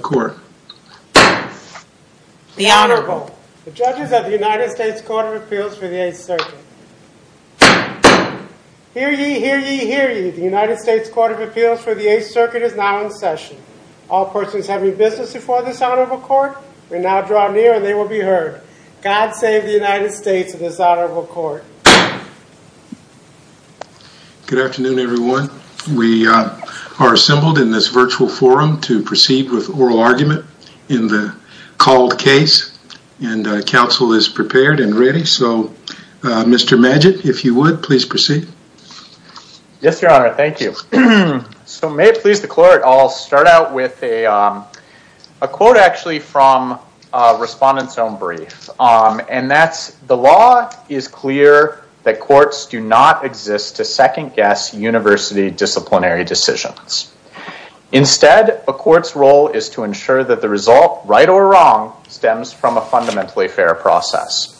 Court. The Honorable. The Judges of the United States Court of Appeals for the 8th Circuit. Hear ye, hear ye, hear ye. The United States Court of Appeals for the 8th Circuit is now in session. All persons having business before this Honorable Court, will now draw near and they will be heard. God save the United States of this Honorable Court. Good afternoon everyone. We are assembled in this virtual forum to proceed with oral argument in the called case and counsel is prepared and ready. So Mr. Magid, if you would please proceed. Yes, Your Honor. Thank you. So may it please the court, I'll start out with a quote actually from Respondent's own brief and that's the law is clear that courts do not exist to second-guess university disciplinary decisions. Instead, a court's role is to ensure that the result, right or wrong, stems from a fundamentally fair process.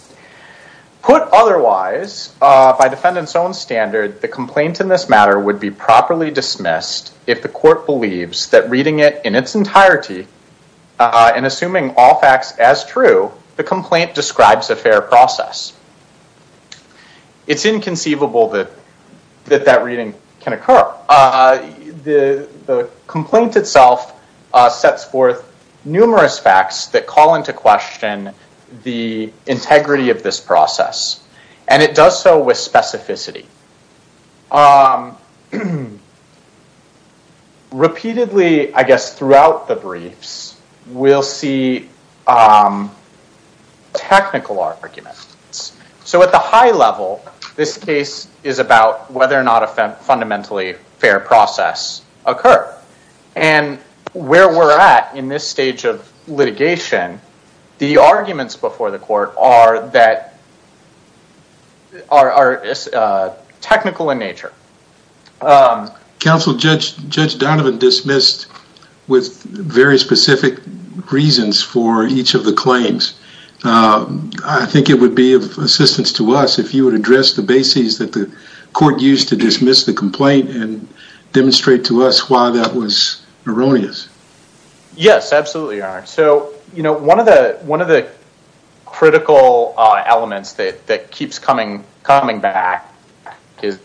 Put otherwise, by defendant's own standard, the complaint in this matter would be properly dismissed if the court believes that reading it in its entirety and assuming all facts as true, the complaint describes a fair process. It's inconceivable that that reading can occur. The complaint itself sets forth numerous facts that call into question the integrity of this process. And it does so with specificity. Repeatedly, I guess throughout the briefs, we'll see technical arguments. So at the high level, this case is about whether or not a fundamentally fair process occurred. And where we're at in this stage of litigation, the arguments before the court are that are technical in nature. Counsel, Judge Donovan dismissed with very specific reasons for each of the claims. I think it would be of assistance to us if you would address the bases that the court used to dismiss the complaint and demonstrate to us why that was erroneous. Yes, absolutely, Your Honor. So, you know, one of the critical elements that keeps coming back is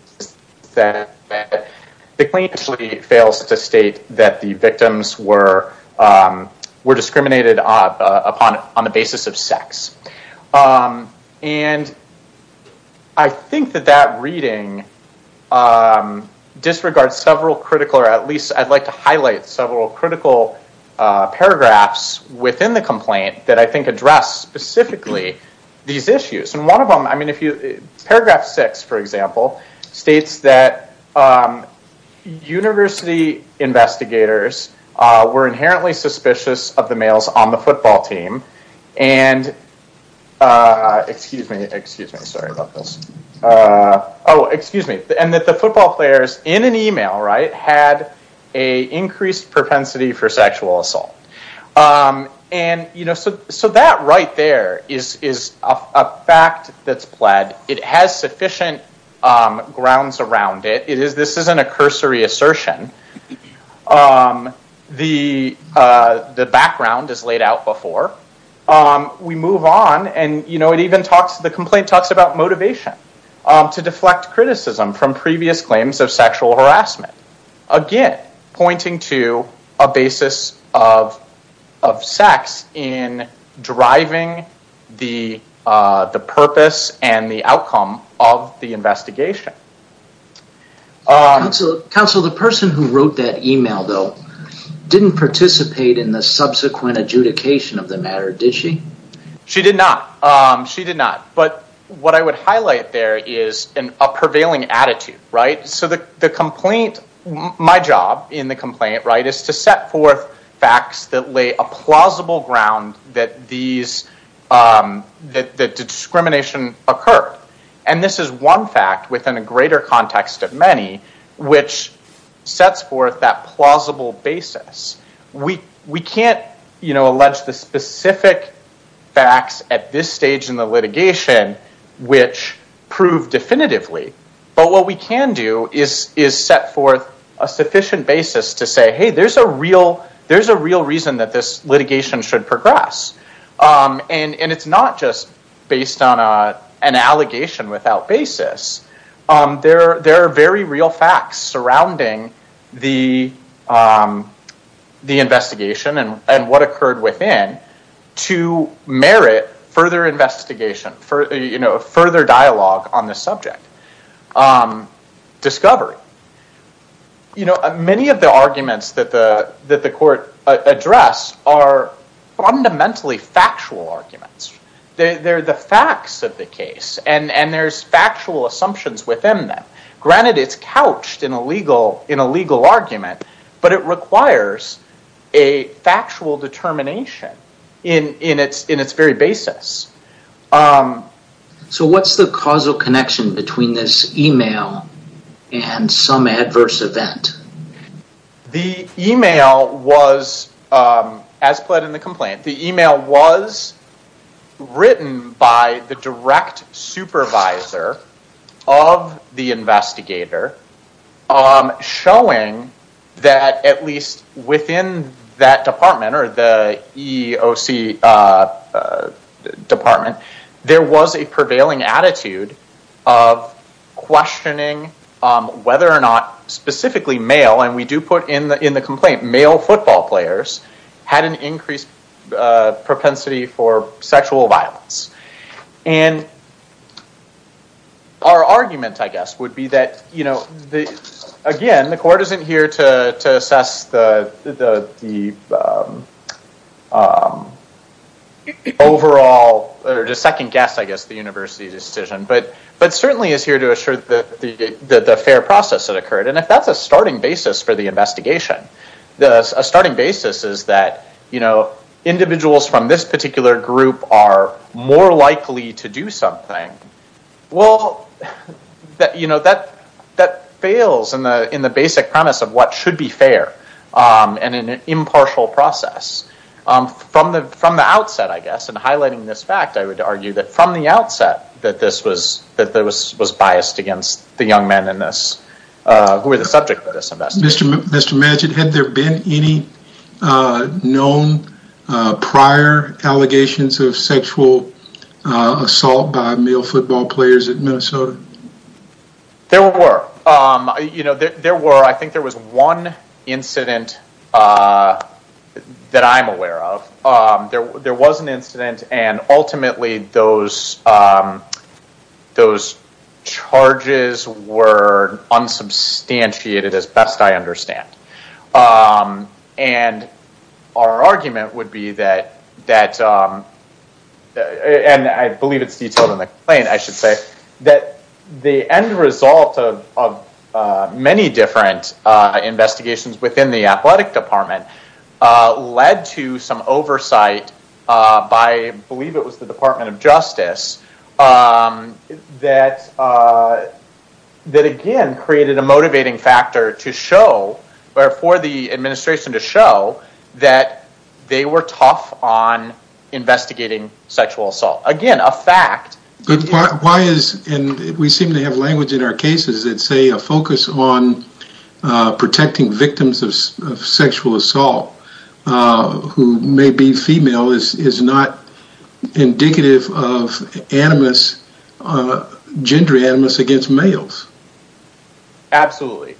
the claim actually fails to state that the victims were discriminated upon on the basis of sex. And I think that that reading disregards several critical, or at least I'd like to highlight several critical paragraphs within the complaint that I think address specifically these issues. And one of them, I mean, if you, paragraph six, for example, states that university investigators were inherently suspicious of the males on the football team and excuse me, excuse me, sorry about this. Oh, excuse me, and that the football players in an email, right, had a increased propensity for sexual assault. And, you know, so that right there is a fact that's pled. It has sufficient grounds around it. It is, this isn't a cursory assertion. The background is laid out before. We move on and, you know, it even talks, the complaint talks about motivation to deflect criticism from previous claims of sexual harassment. Again, pointing to a basis of sex in driving the purpose and the outcome of the investigation. Counsel, the person who wrote that email, though, didn't participate in the subsequent adjudication of the matter, did she? She did not. She did not, but what I would highlight there is a prevailing attitude, right? So the complaint, my job in the complaint, right, is to set forth facts that lay a plausible ground that these, that discrimination occurred, and this is one fact within a greater context of many which sets forth that plausible basis. We can't, you know, allege the specific facts at this stage in the litigation which proved definitively, but what we can do is set forth a sufficient basis to say, hey, there's a real, there's a real reason that this litigation should progress. And it's not just based on an allegation without basis. There are very real facts surrounding the investigation and what occurred within to merit further investigation for, you know, further dialogue on the subject. Discovery. You know, many of the arguments that the, that the court addressed are fundamentally factual arguments. They're the facts of the case and, and there's factual assumptions within them. Granted, it's couched in a legal, in a legal argument, but it requires a in, in its, in its very basis. So what's the causal connection between this email and some adverse event? The email was, as pled in the complaint, the email was written by the direct supervisor of the investigator showing that at least within that department or the EOC department, there was a prevailing attitude of questioning whether or not specifically male, and we do put in the, in the complaint, male football players had an increased propensity for sexual violence. And our argument, I guess, would be that, you know, the, again, the court isn't here to, to assess the, the, the overall, or the second guess, I guess, the university decision. But, but certainly is here to assure that the, the, the fair process that occurred. And if that's a starting basis for the investigation, the starting basis is that, you know, they're likely to do something. Well, that, you know, that, that fails in the, in the basic premise of what should be fair and in an impartial process. From the, from the outset, I guess, and highlighting this fact, I would argue that from the outset that this was, that there was, was biased against the young men in this who were the subject of this investigation. Mr. Majid, had there been any known prior allegations of sexual assault by male football players at Minnesota? There were. You know, there were. I think there was one incident that I'm aware of. There, there was an incident and ultimately those, those charges were unsubstantiated as best I understand. And our argument would be that, that, and I believe it's detailed in the complaint, I should say, that the end result of many different investigations within the Athletic Department led to some oversight by, I believe it was the Department of Justice, that, that again created a motivating factor to show, or for the administration to show, that they were tough on investigating sexual assault. Again, a fact. Why is, and we seem to have language in our cases that say a focus on protecting victims of sexual assault who may be female is, is not indicative of animus, gender animus against males. Absolutely,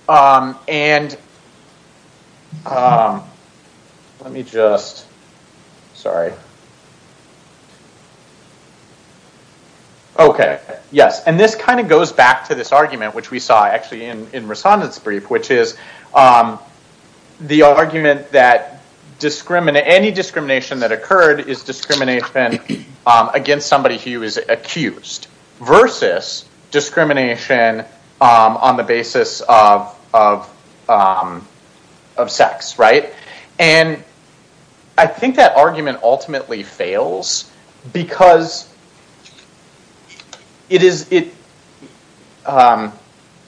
and let me just, sorry. Okay, yes, and this kind of goes back to this argument, which we saw actually in, in Rasanda's brief, which is the argument that discriminate, any discrimination that occurred is discrimination against somebody who is accused, versus discrimination on the basis of, of, of sex, right? And I think that argument ultimately fails, because it is, it,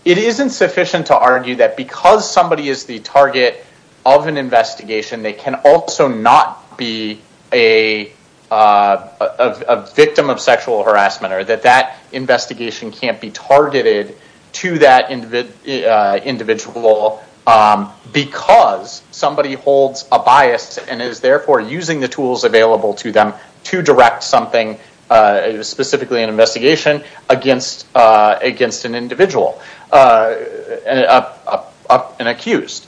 it isn't sufficient to argue that because somebody is the target of an investigation, they can also not be a victim of sexual harassment, or that that investigation can't be targeted to that individual, because somebody holds a bias, and is therefore using the tools available to them to direct something, specifically an investigation, against, against an individual, an accused.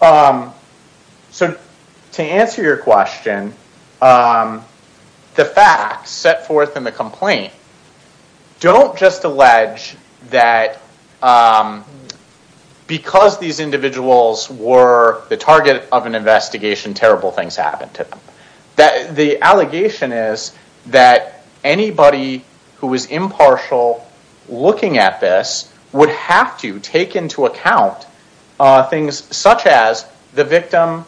So to answer your question, the fact set forth in the complaint, don't just allege that because these individuals were the target of an investigation, terrible things happened to them. That, the allegation is that anybody who is impartial looking at this, would have to take into account things such as the victim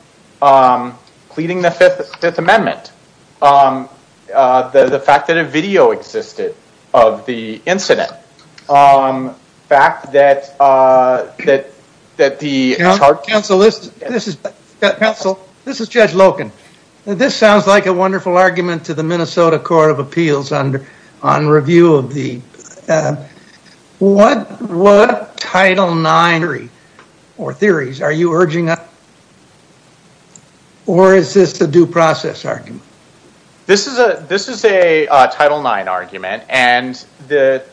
pleading the Fifth, Fifth Amendment, the fact that a video existed of the incident, the fact that, that, that the... Counsel, this is, this is, Counsel, this is Judge Loken. This sounds like a wonderful argument to the Minnesota Court of Appeals under, on review of the, what, what Title IX theory, or theories, are you urging us, or is this a due process argument? This is a, this is a Title IX argument, and the,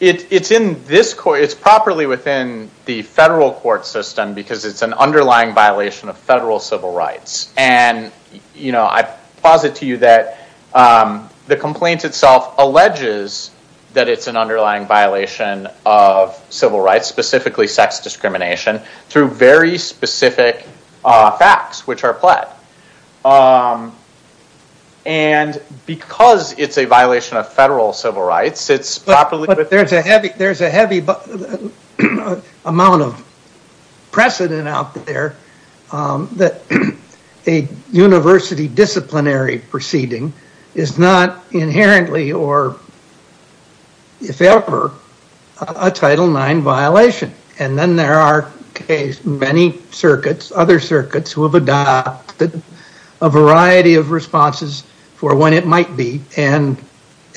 it, it's in this court, it's properly within the federal court system because it's an underlying violation of federal civil rights, and you know, I posit to you that the complaint itself alleges that it's an underlying violation of civil rights, specifically sex discrimination, through very specific facts, which are pled. And because it's a violation of federal civil rights, it's properly... But there's a heavy, there's a heavy amount of precedent out there that a university disciplinary proceeding is not inherently or, if ever, a Title IX violation, and then there are many circuits, other circuits, who have adopted a precedent, and it might be, and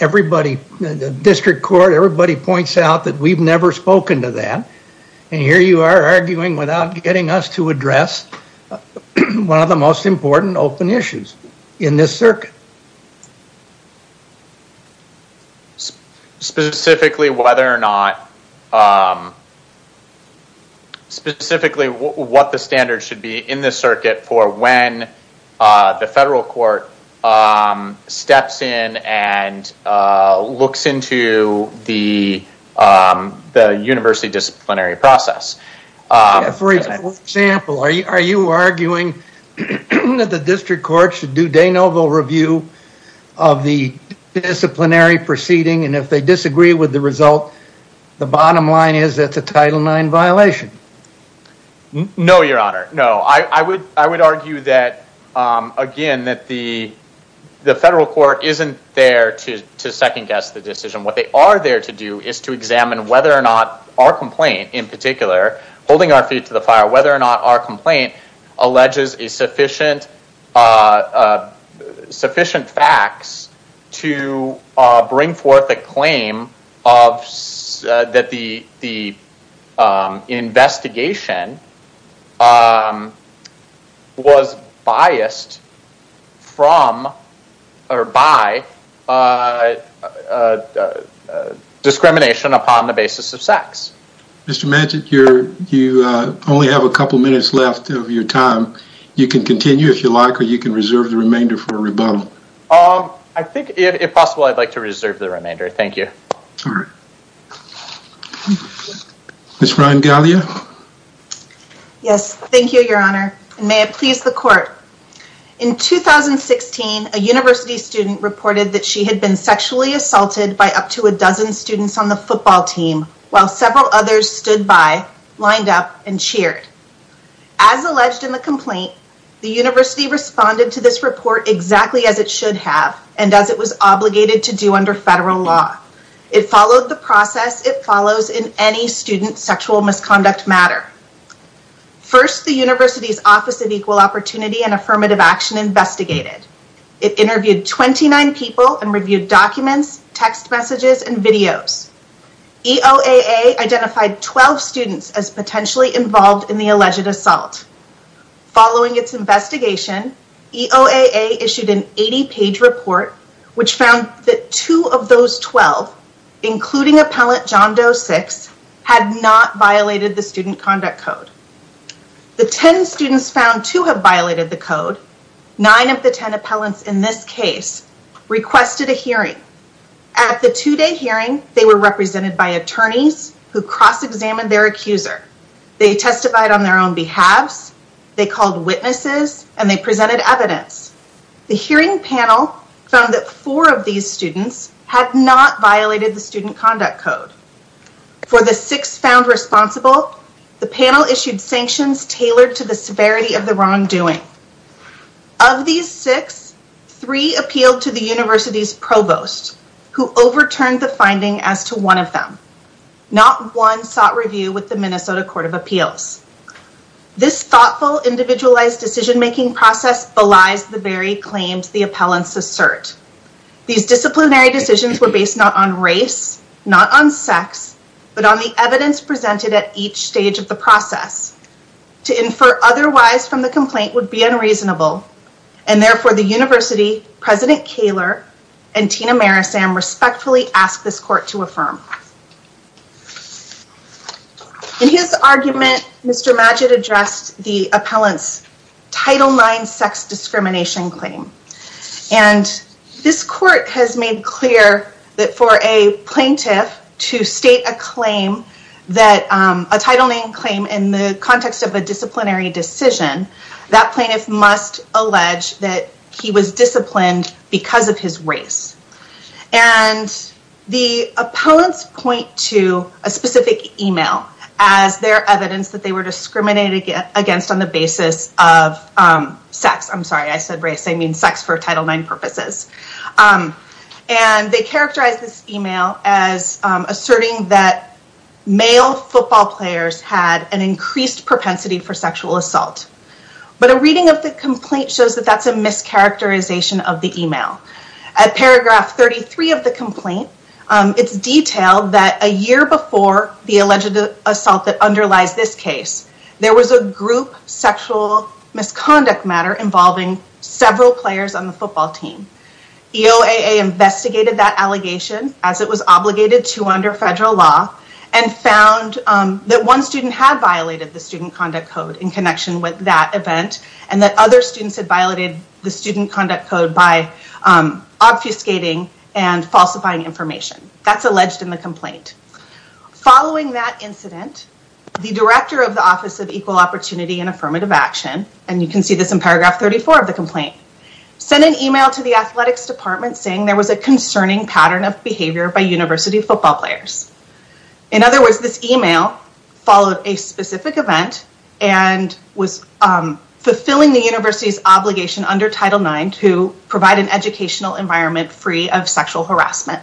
everybody, the district court, everybody points out that we've never spoken to that, and here you are arguing without getting us to address one of the most important open issues in this circuit. Specifically whether or not, specifically what the standards should be in this circuit for when the federal court steps in and looks into the the university disciplinary process. For example, are you arguing that the district court should do de novo review of the disciplinary proceeding, and if they disagree with the result, the bottom line is that's a Title IX violation. No, your honor. No, I would argue that again, that the the federal court isn't there to second-guess the decision. What they are there to do is to examine whether or not our complaint, in particular, holding our feet to the fire, whether or not our complaint alleges a sufficient facts to bring forth a claim of that the investigation was biased from or by discrimination upon the basis of sex. Mr. Manchin, you only have a couple minutes left of your time. You can continue if you like, or you can reserve the remainder for a rebuttal. I think if possible, I'd like to reserve the remainder. Thank you. Ms. Ryan-Gallia? Yes, thank you, your honor, and may it please the court. In 2016, a university student reported that she had been sexually assaulted by up to a dozen students on the football team, while several others stood by, lined up, and cheered. As alleged in the complaint, the university responded to this report exactly as it should have and as it was obligated to do under federal law. It followed the process it follows in any student sexual misconduct matter. First, the university's Office of Equal Opportunity and Affirmative Action investigated. It interviewed 29 people and reviewed documents, text messages, and videos. EOAA identified 12 students as potentially involved in the alleged assault. Following its investigation, EOAA issued an 80-page report which found that two of those 12, including appellant John Doe 6, had not violated the student conduct code. The 10 students found to have violated the code, 9 of the 10 appellants in this case, requested a hearing. At the two-day hearing, they were represented by attorneys who cross-examined their accuser. They testified on their own behalves, they called witnesses, and they presented evidence. The hearing panel found that four of these students had not violated the student conduct code. For the six found responsible, the panel issued sanctions tailored to the severity of the wrongdoing. Of these six, three appealed to the university's provost who overturned the finding as to one of them. Not one sought review with the Minnesota Court of Appeals. This thoughtful, individualized decision-making process belies the very claims the appellants assert. These disciplinary decisions were based not on race, not on sex, but on the evidence presented at each stage of the process. To infer otherwise from the complaint would be unreasonable, and therefore the university, President Kaler, and Tina Marisam, respectfully asked this court to affirm. In his argument, Mr. Magid addressed the appellant's Title IX sex discrimination claim, and this court has made clear that for a plaintiff to state a claim, that a Title IX claim in the context of a disciplinary decision, that plaintiff must allege that he was disciplined because of his race. The appellants point to a specific email as their evidence that they were discriminated against on the basis of sex. I'm sorry, I said race. I mean sex for Title IX purposes. And they characterize this email as asserting that male football players had an increased propensity for sexual assault. But a reading of the complaint shows that that's a mischaracterization of the email. At paragraph 33 of the complaint, it's detailed that a year before the alleged assault that underlies this case, there was a group sexual misconduct matter involving several players on the football team. EOAA investigated that allegation as it was obligated to under federal law, and found that one student had violated the student conduct code in connection with that event, and that other students had violated the student conduct code by obfuscating and falsifying information. That's alleged in the complaint. Following that incident, the director of the Office of Equal Opportunity and Affirmative Action, and you can see this in paragraph 34 of the complaint, sent an email to the Athletics Department saying there was a concerning pattern of behavior by university football players. In other words, this email followed a specific event and was fulfilling the university's obligation under Title IX to provide an educational environment free of sexual harassment.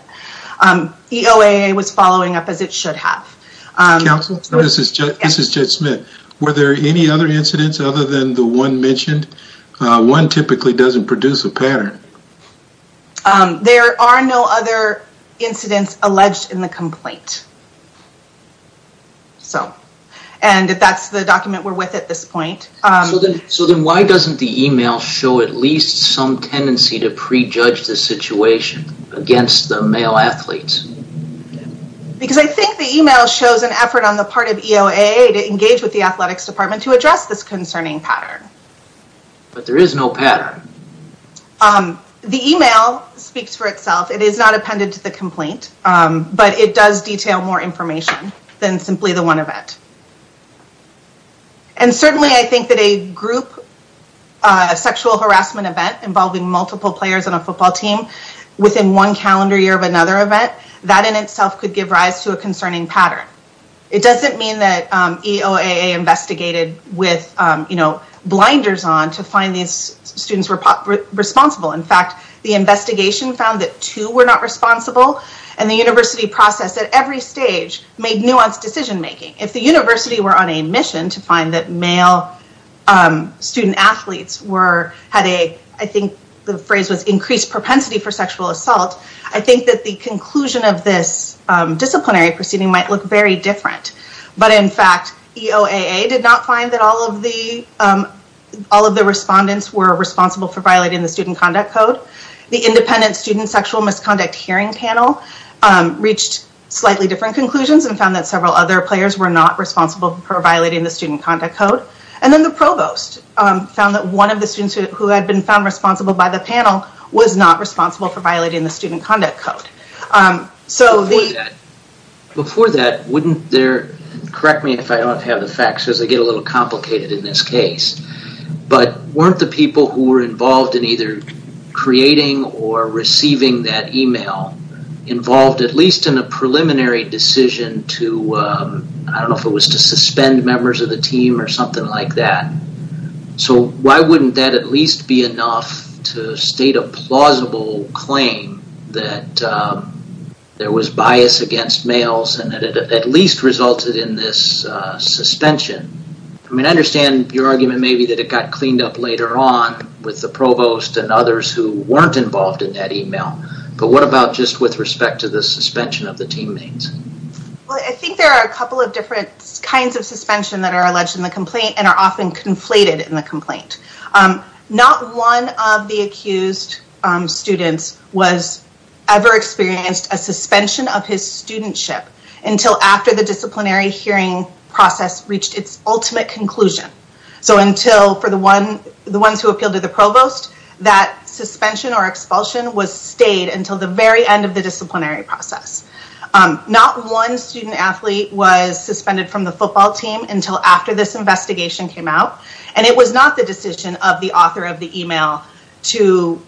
EOAA was following up as it should have. Counsel, this is Judge Smith. Were there any other incidents other than the one mentioned? One typically doesn't produce a pattern. There are no other incidents alleged in the complaint. So, and if that's the document we're with at this point. So then why doesn't the email show at least some tendency to prejudge the situation against the male athletes? Because I think the email shows an effort on the part of EOAA to engage with the Athletics Department to address this concerning pattern. But there is no pattern. The email speaks for itself. It is not appended to the complaint, but it does detail more information than simply the one event. And certainly, I think that a group sexual harassment event involving multiple players on a football team within one calendar year of another event, that in itself could give rise to a concerning pattern. It doesn't mean that EOAA investigated with, you know, blinders on to find these students were responsible. In fact, the investigation found that two were not responsible and the university process at every stage made nuanced decision-making. If the university were on a mission to find that male student athletes were, had a, I think the phrase was increased propensity for sexual assault. I think that the conclusion of this disciplinary proceeding might look very different. But in fact, EOAA did not find that all of the all of the respondents were responsible for violating the Student Conduct Code. The Independent Student Sexual Misconduct Hearing Panel reached slightly different conclusions and found that several other players were not responsible for violating the Student Conduct Code. And then the provost found that one of the students who had been found responsible by the panel was not responsible for violating the Student Conduct Code. So the... Before that, wouldn't there, correct me if I don't have the facts because they get a little complicated in this case, but weren't the people who were involved in either creating or receiving that email involved at least in a preliminary decision to, I don't know if it was to suspend members of the team or something like that. So why wouldn't that at least be enough to state a plausible claim that there was bias against males and that it at least resulted in this suspension? I mean, I understand your argument maybe that it got cleaned up later on with the provost and others who weren't involved in that email. But what about just with respect to the suspension of the teammates? Well, I think there are a couple of different kinds of suspension that are alleged in the complaint and are often conflated in the complaint. Not one of the accused students was ever experienced a suspension of his studentship until after the disciplinary hearing process reached its ultimate conclusion. So until for the one, the ones who appealed to the provost, that suspension or expulsion was stayed until the very end of the disciplinary process. Not one student-athlete was suspended from the football team until after this investigation came out. And it was not the decision of the author of the email to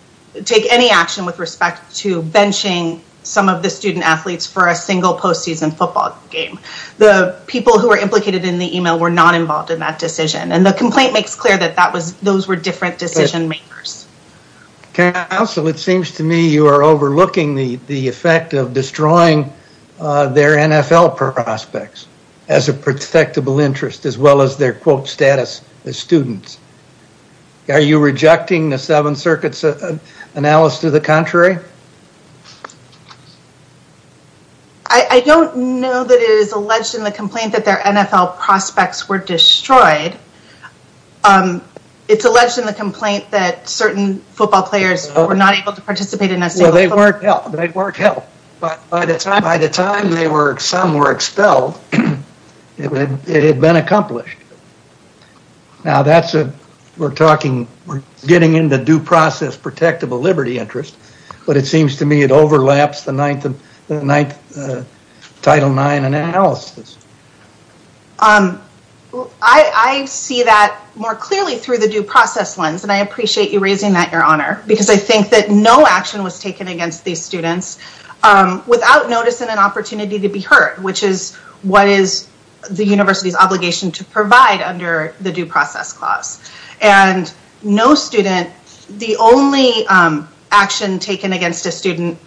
take any action with respect to benching some of the student-athletes for a single postseason football game. The people who were implicated in the email were not involved in that decision and the complaint makes clear that that was, those were different decision makers. Counsel, it seems to me you are overlooking the the effect of destroying their NFL prospects as a protectable interest as well as their quote status as students. Are you rejecting the Seventh Circuit's analysis to the contrary? I don't know that it is alleged in the complaint that their NFL prospects were destroyed. It's alleged in the complaint that certain football players were not able to participate in a single football game. Well, they weren't helped. They weren't helped. But by the time they were, some were expelled, it had been accomplished. Now that's a, we're talking, we're getting into due process protectable liberty interest, but it seems to me it overlaps the ninth, the ninth Title IX analysis. Um, I, I see that more clearly through the due process lens and I appreciate you raising that your honor because I think that no action was taken against these students without noticing an opportunity to be hurt, which is what is the university's obligation to provide under the due process clause and no student, the only action taken against a student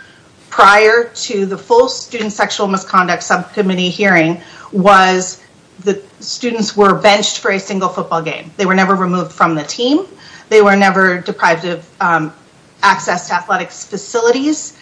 prior to the full student sexual misconduct subcommittee hearing was the students were benched for a single football game. They were never removed from the team. They were never deprived of access to athletics facilities.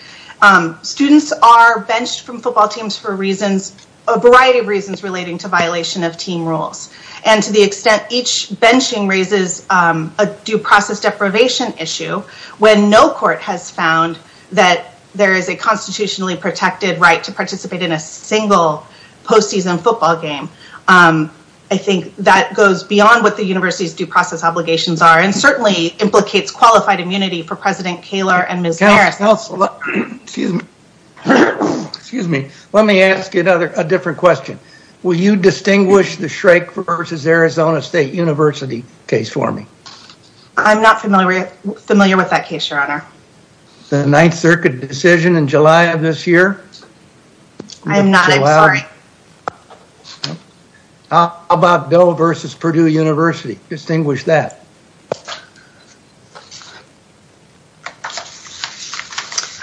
Students are benched from football teams for reasons, a variety of reasons relating to violation of team rules and to the extent each benching raises a due process deprivation issue when no court has found that there is a constitutionally protected right to participate in a single postseason football game. I think that goes beyond what the university's due process obligations are and certainly implicates qualified immunity for President Kaler and Ms. Harris. Excuse me, let me ask you another, a different question. Will you distinguish the Shrake versus Arizona State University case for me? I'm not familiar, familiar with that case, your honor. The Ninth Circuit decision in July of this year? I'm not, I'm sorry. How about Doe versus Purdue University, distinguish that.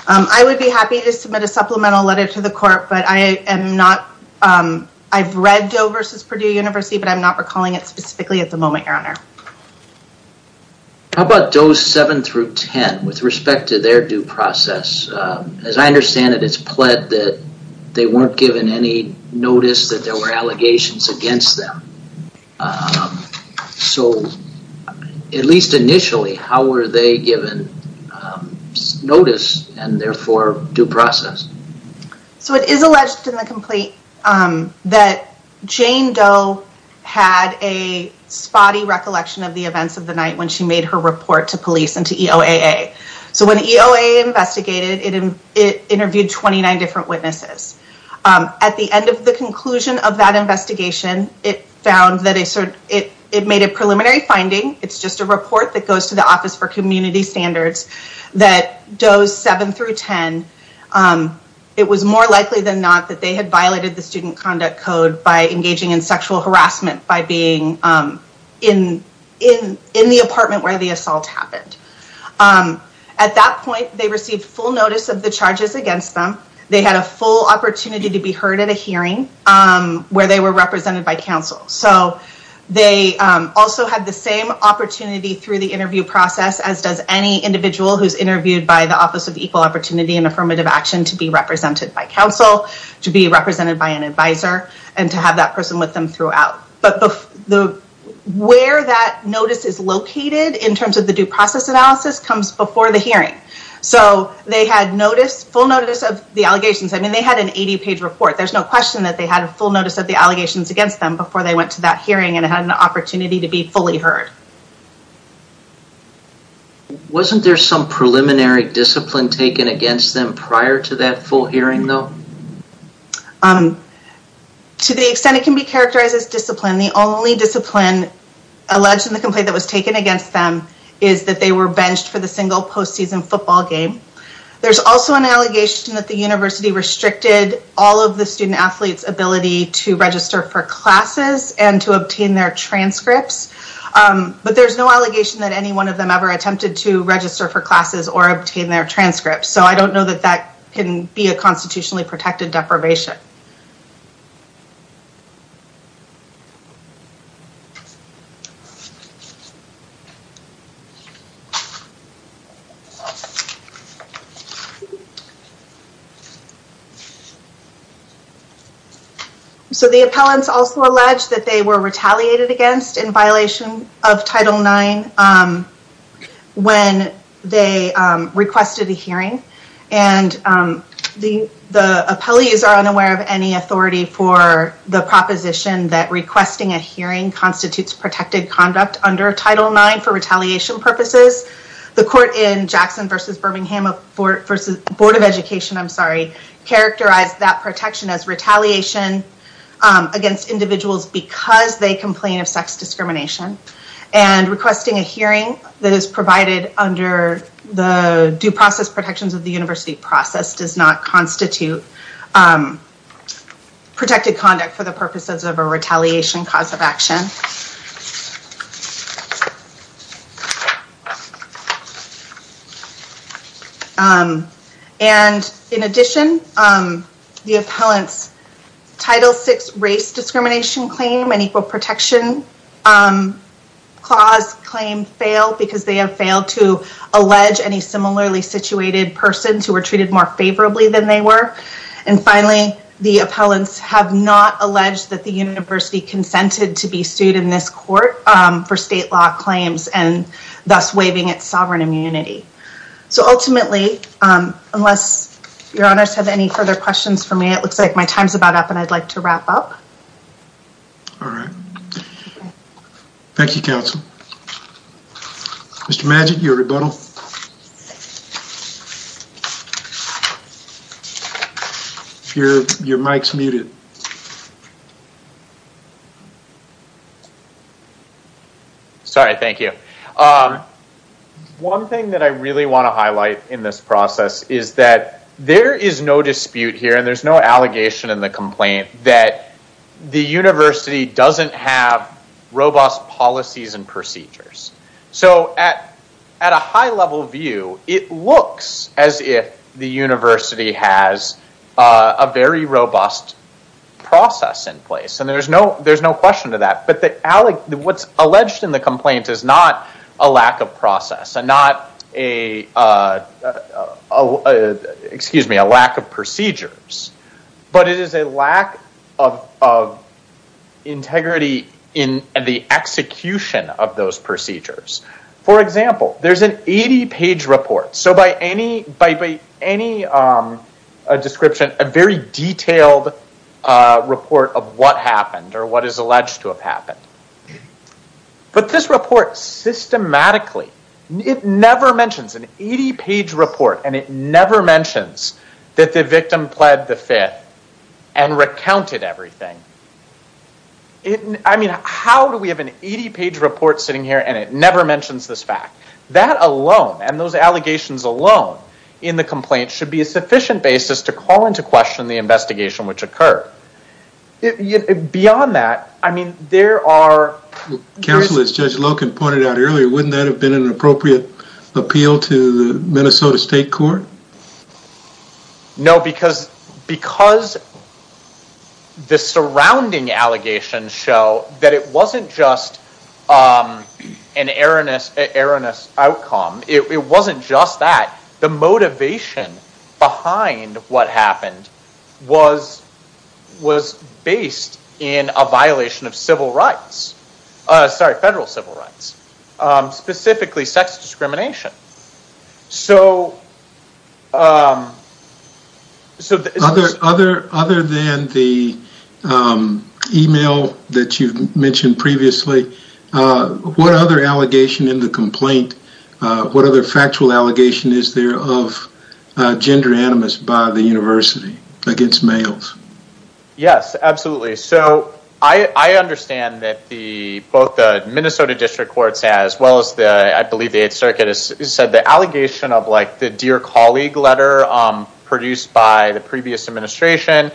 I would be happy to submit a supplemental letter to the court, but I am not, I've read Doe versus Purdue University, but I'm not recalling it specifically at the moment, your honor. How about Doe's 7 through 10 with respect to their due process? As I understand it, it's pled that they weren't given any notice that there were allegations against them. So, at least initially, how were they given notice and therefore due process? So it is alleged in the complaint that Jane Doe had a spotty recognition of the events of the night when she made her report to police and to EOAA. So when EOAA investigated, it interviewed 29 different witnesses. At the end of the conclusion of that investigation, it found that it made a preliminary finding, it's just a report that goes to the Office for Community Standards, that Doe's 7 through 10, it was more likely than not that they had violated the Student Conduct Code by engaging in sexual harassment by being in the apartment where the assault happened. At that point, they received full notice of the charges against them. They had a full opportunity to be heard at a hearing where they were represented by counsel. So they also had the same opportunity through the interview process as does any individual who's interviewed by the Office of Equal Opportunity and Affirmative Action to be represented by counsel, to be represented by an advisor, and to have that person with them throughout. But where that notice is located in terms of the due process analysis comes before the hearing. So they had full notice of the allegations. I mean, they had an 80-page report. There's no question that they had a full notice of the allegations against them before they went to that hearing and had an opportunity to be fully heard. Wasn't there some preliminary discipline taken against them prior to that full hearing though? To the extent it can be characterized as discipline, the only discipline alleged in the complaint that was taken against them is that they were benched for the single postseason football game. There's also an allegation that the university restricted all of the student-athletes ability to register for classes and to obtain their transcripts. But there's no allegation that any one of them ever attempted to register for classes or obtain their transcripts. So I don't know that that can be a constitutionally protected deprivation. So the appellants also alleged that they were retaliated against in violation of Title IX when they requested a hearing and the the appellees are unaware of any authority for the proposition that requesting a hearing constitutes protected conduct under Title IX for retaliation purposes. The court in Jackson v. Birmingham v. Board of Education, I'm sorry, characterized that protection as retaliation against individuals because they complain of sex discrimination and requesting a hearing that is provided under the due process protections of the university process does not constitute protected conduct for the purposes of a retaliation cause of action. And in addition, the appellants Title VI race discrimination claim and equal protection clause claim fail because they have failed to allege any similarly situated persons who were treated more favorably than they were and finally, the appellants have not alleged that the university consented to be sued in this court for state law claims and thus waiving its sovereign immunity. So ultimately, unless your honors have any further questions for me, it looks like my time's about up and I'd like to wrap up. All right, thank you counsel. Mr. Magic, your rebuttal. Your mic's muted. Sorry, thank you. One thing that I really want to highlight in this process is that there is no dispute here and there's no allegation in the complaint that the university doesn't have robust policies and procedures. So at a high-level view, it looks as if the university has a very robust process in place and there's no question to that. But what's alleged in the complaint is not a lack of process and not a excuse me, a lack of procedures, but it is a lack of integrity in the execution of those procedures. For example, there's an 80-page report. So by any description, a very detailed report of what happened or what is alleged to have happened. But this report systematically, it never mentions an 80-page report and it never mentions that the victim pled the fifth and recounted everything. I mean, how do we have an 80-page report sitting here and it never mentions this fact? That alone and those allegations alone in the complaint should be a sufficient basis to call into question the investigation which occurred. Beyond that, I mean there are... Counsel, as Judge Loken pointed out earlier, wouldn't that have been an appropriate appeal to the Minnesota State Court? No, because the surrounding allegations show that it wasn't just an erroneous outcome. It wasn't just that. The motivation behind what happened was based in a violation of civil rights. Sorry, federal civil rights. Specifically, sex discrimination. So Other than the email that you've mentioned previously, what other allegation in the complaint, what other factual allegation is there of gender animus by the university against males? Yes, absolutely. So I understand that the both the Minnesota District Courts as well as the I believe the 8th Circuit has said the allegation of like the dear colleague letter produced by the previous administration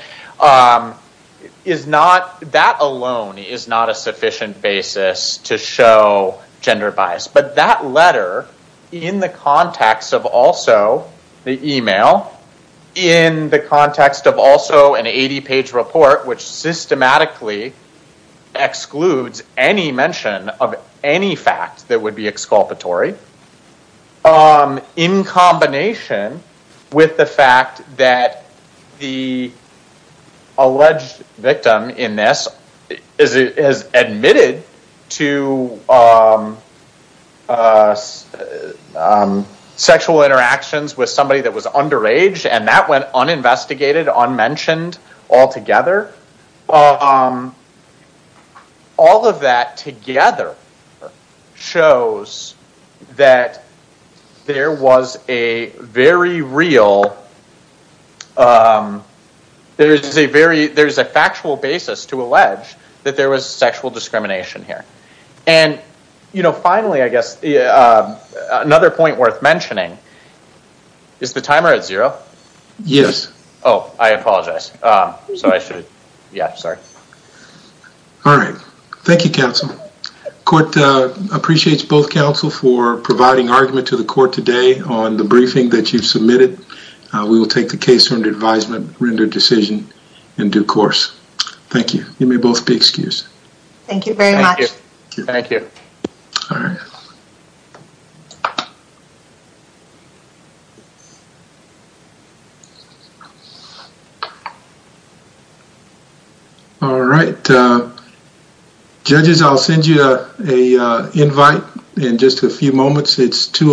is not, that alone is not a sufficient basis to show gender bias, but that letter in the context of also the email, in the context of also an 80-page report which systematically excludes any mention of any fact that would be exculpatory, in combination with the fact that the alleged victim in this is admitted to sexual interactions with somebody that was underage and that went uninvestigated, unmentioned, altogether. All of that together shows that there was a very real, there's a very, there's a factual basis to allege that there was sexual discrimination here. And you know, finally, I guess another point worth mentioning, is the timer at zero? Yes. Oh, I apologize. So I should, yeah, sorry. All right. Thank you, counsel. Court appreciates both counsel for providing argument to the court today on the briefing that you've submitted. We will take the case under advisement, render decision in due course. Thank you. You may both be excused. Thank you very much. Thank you. All right. Judges, I'll send you a invite in just a few moments. It's 2 o'clock.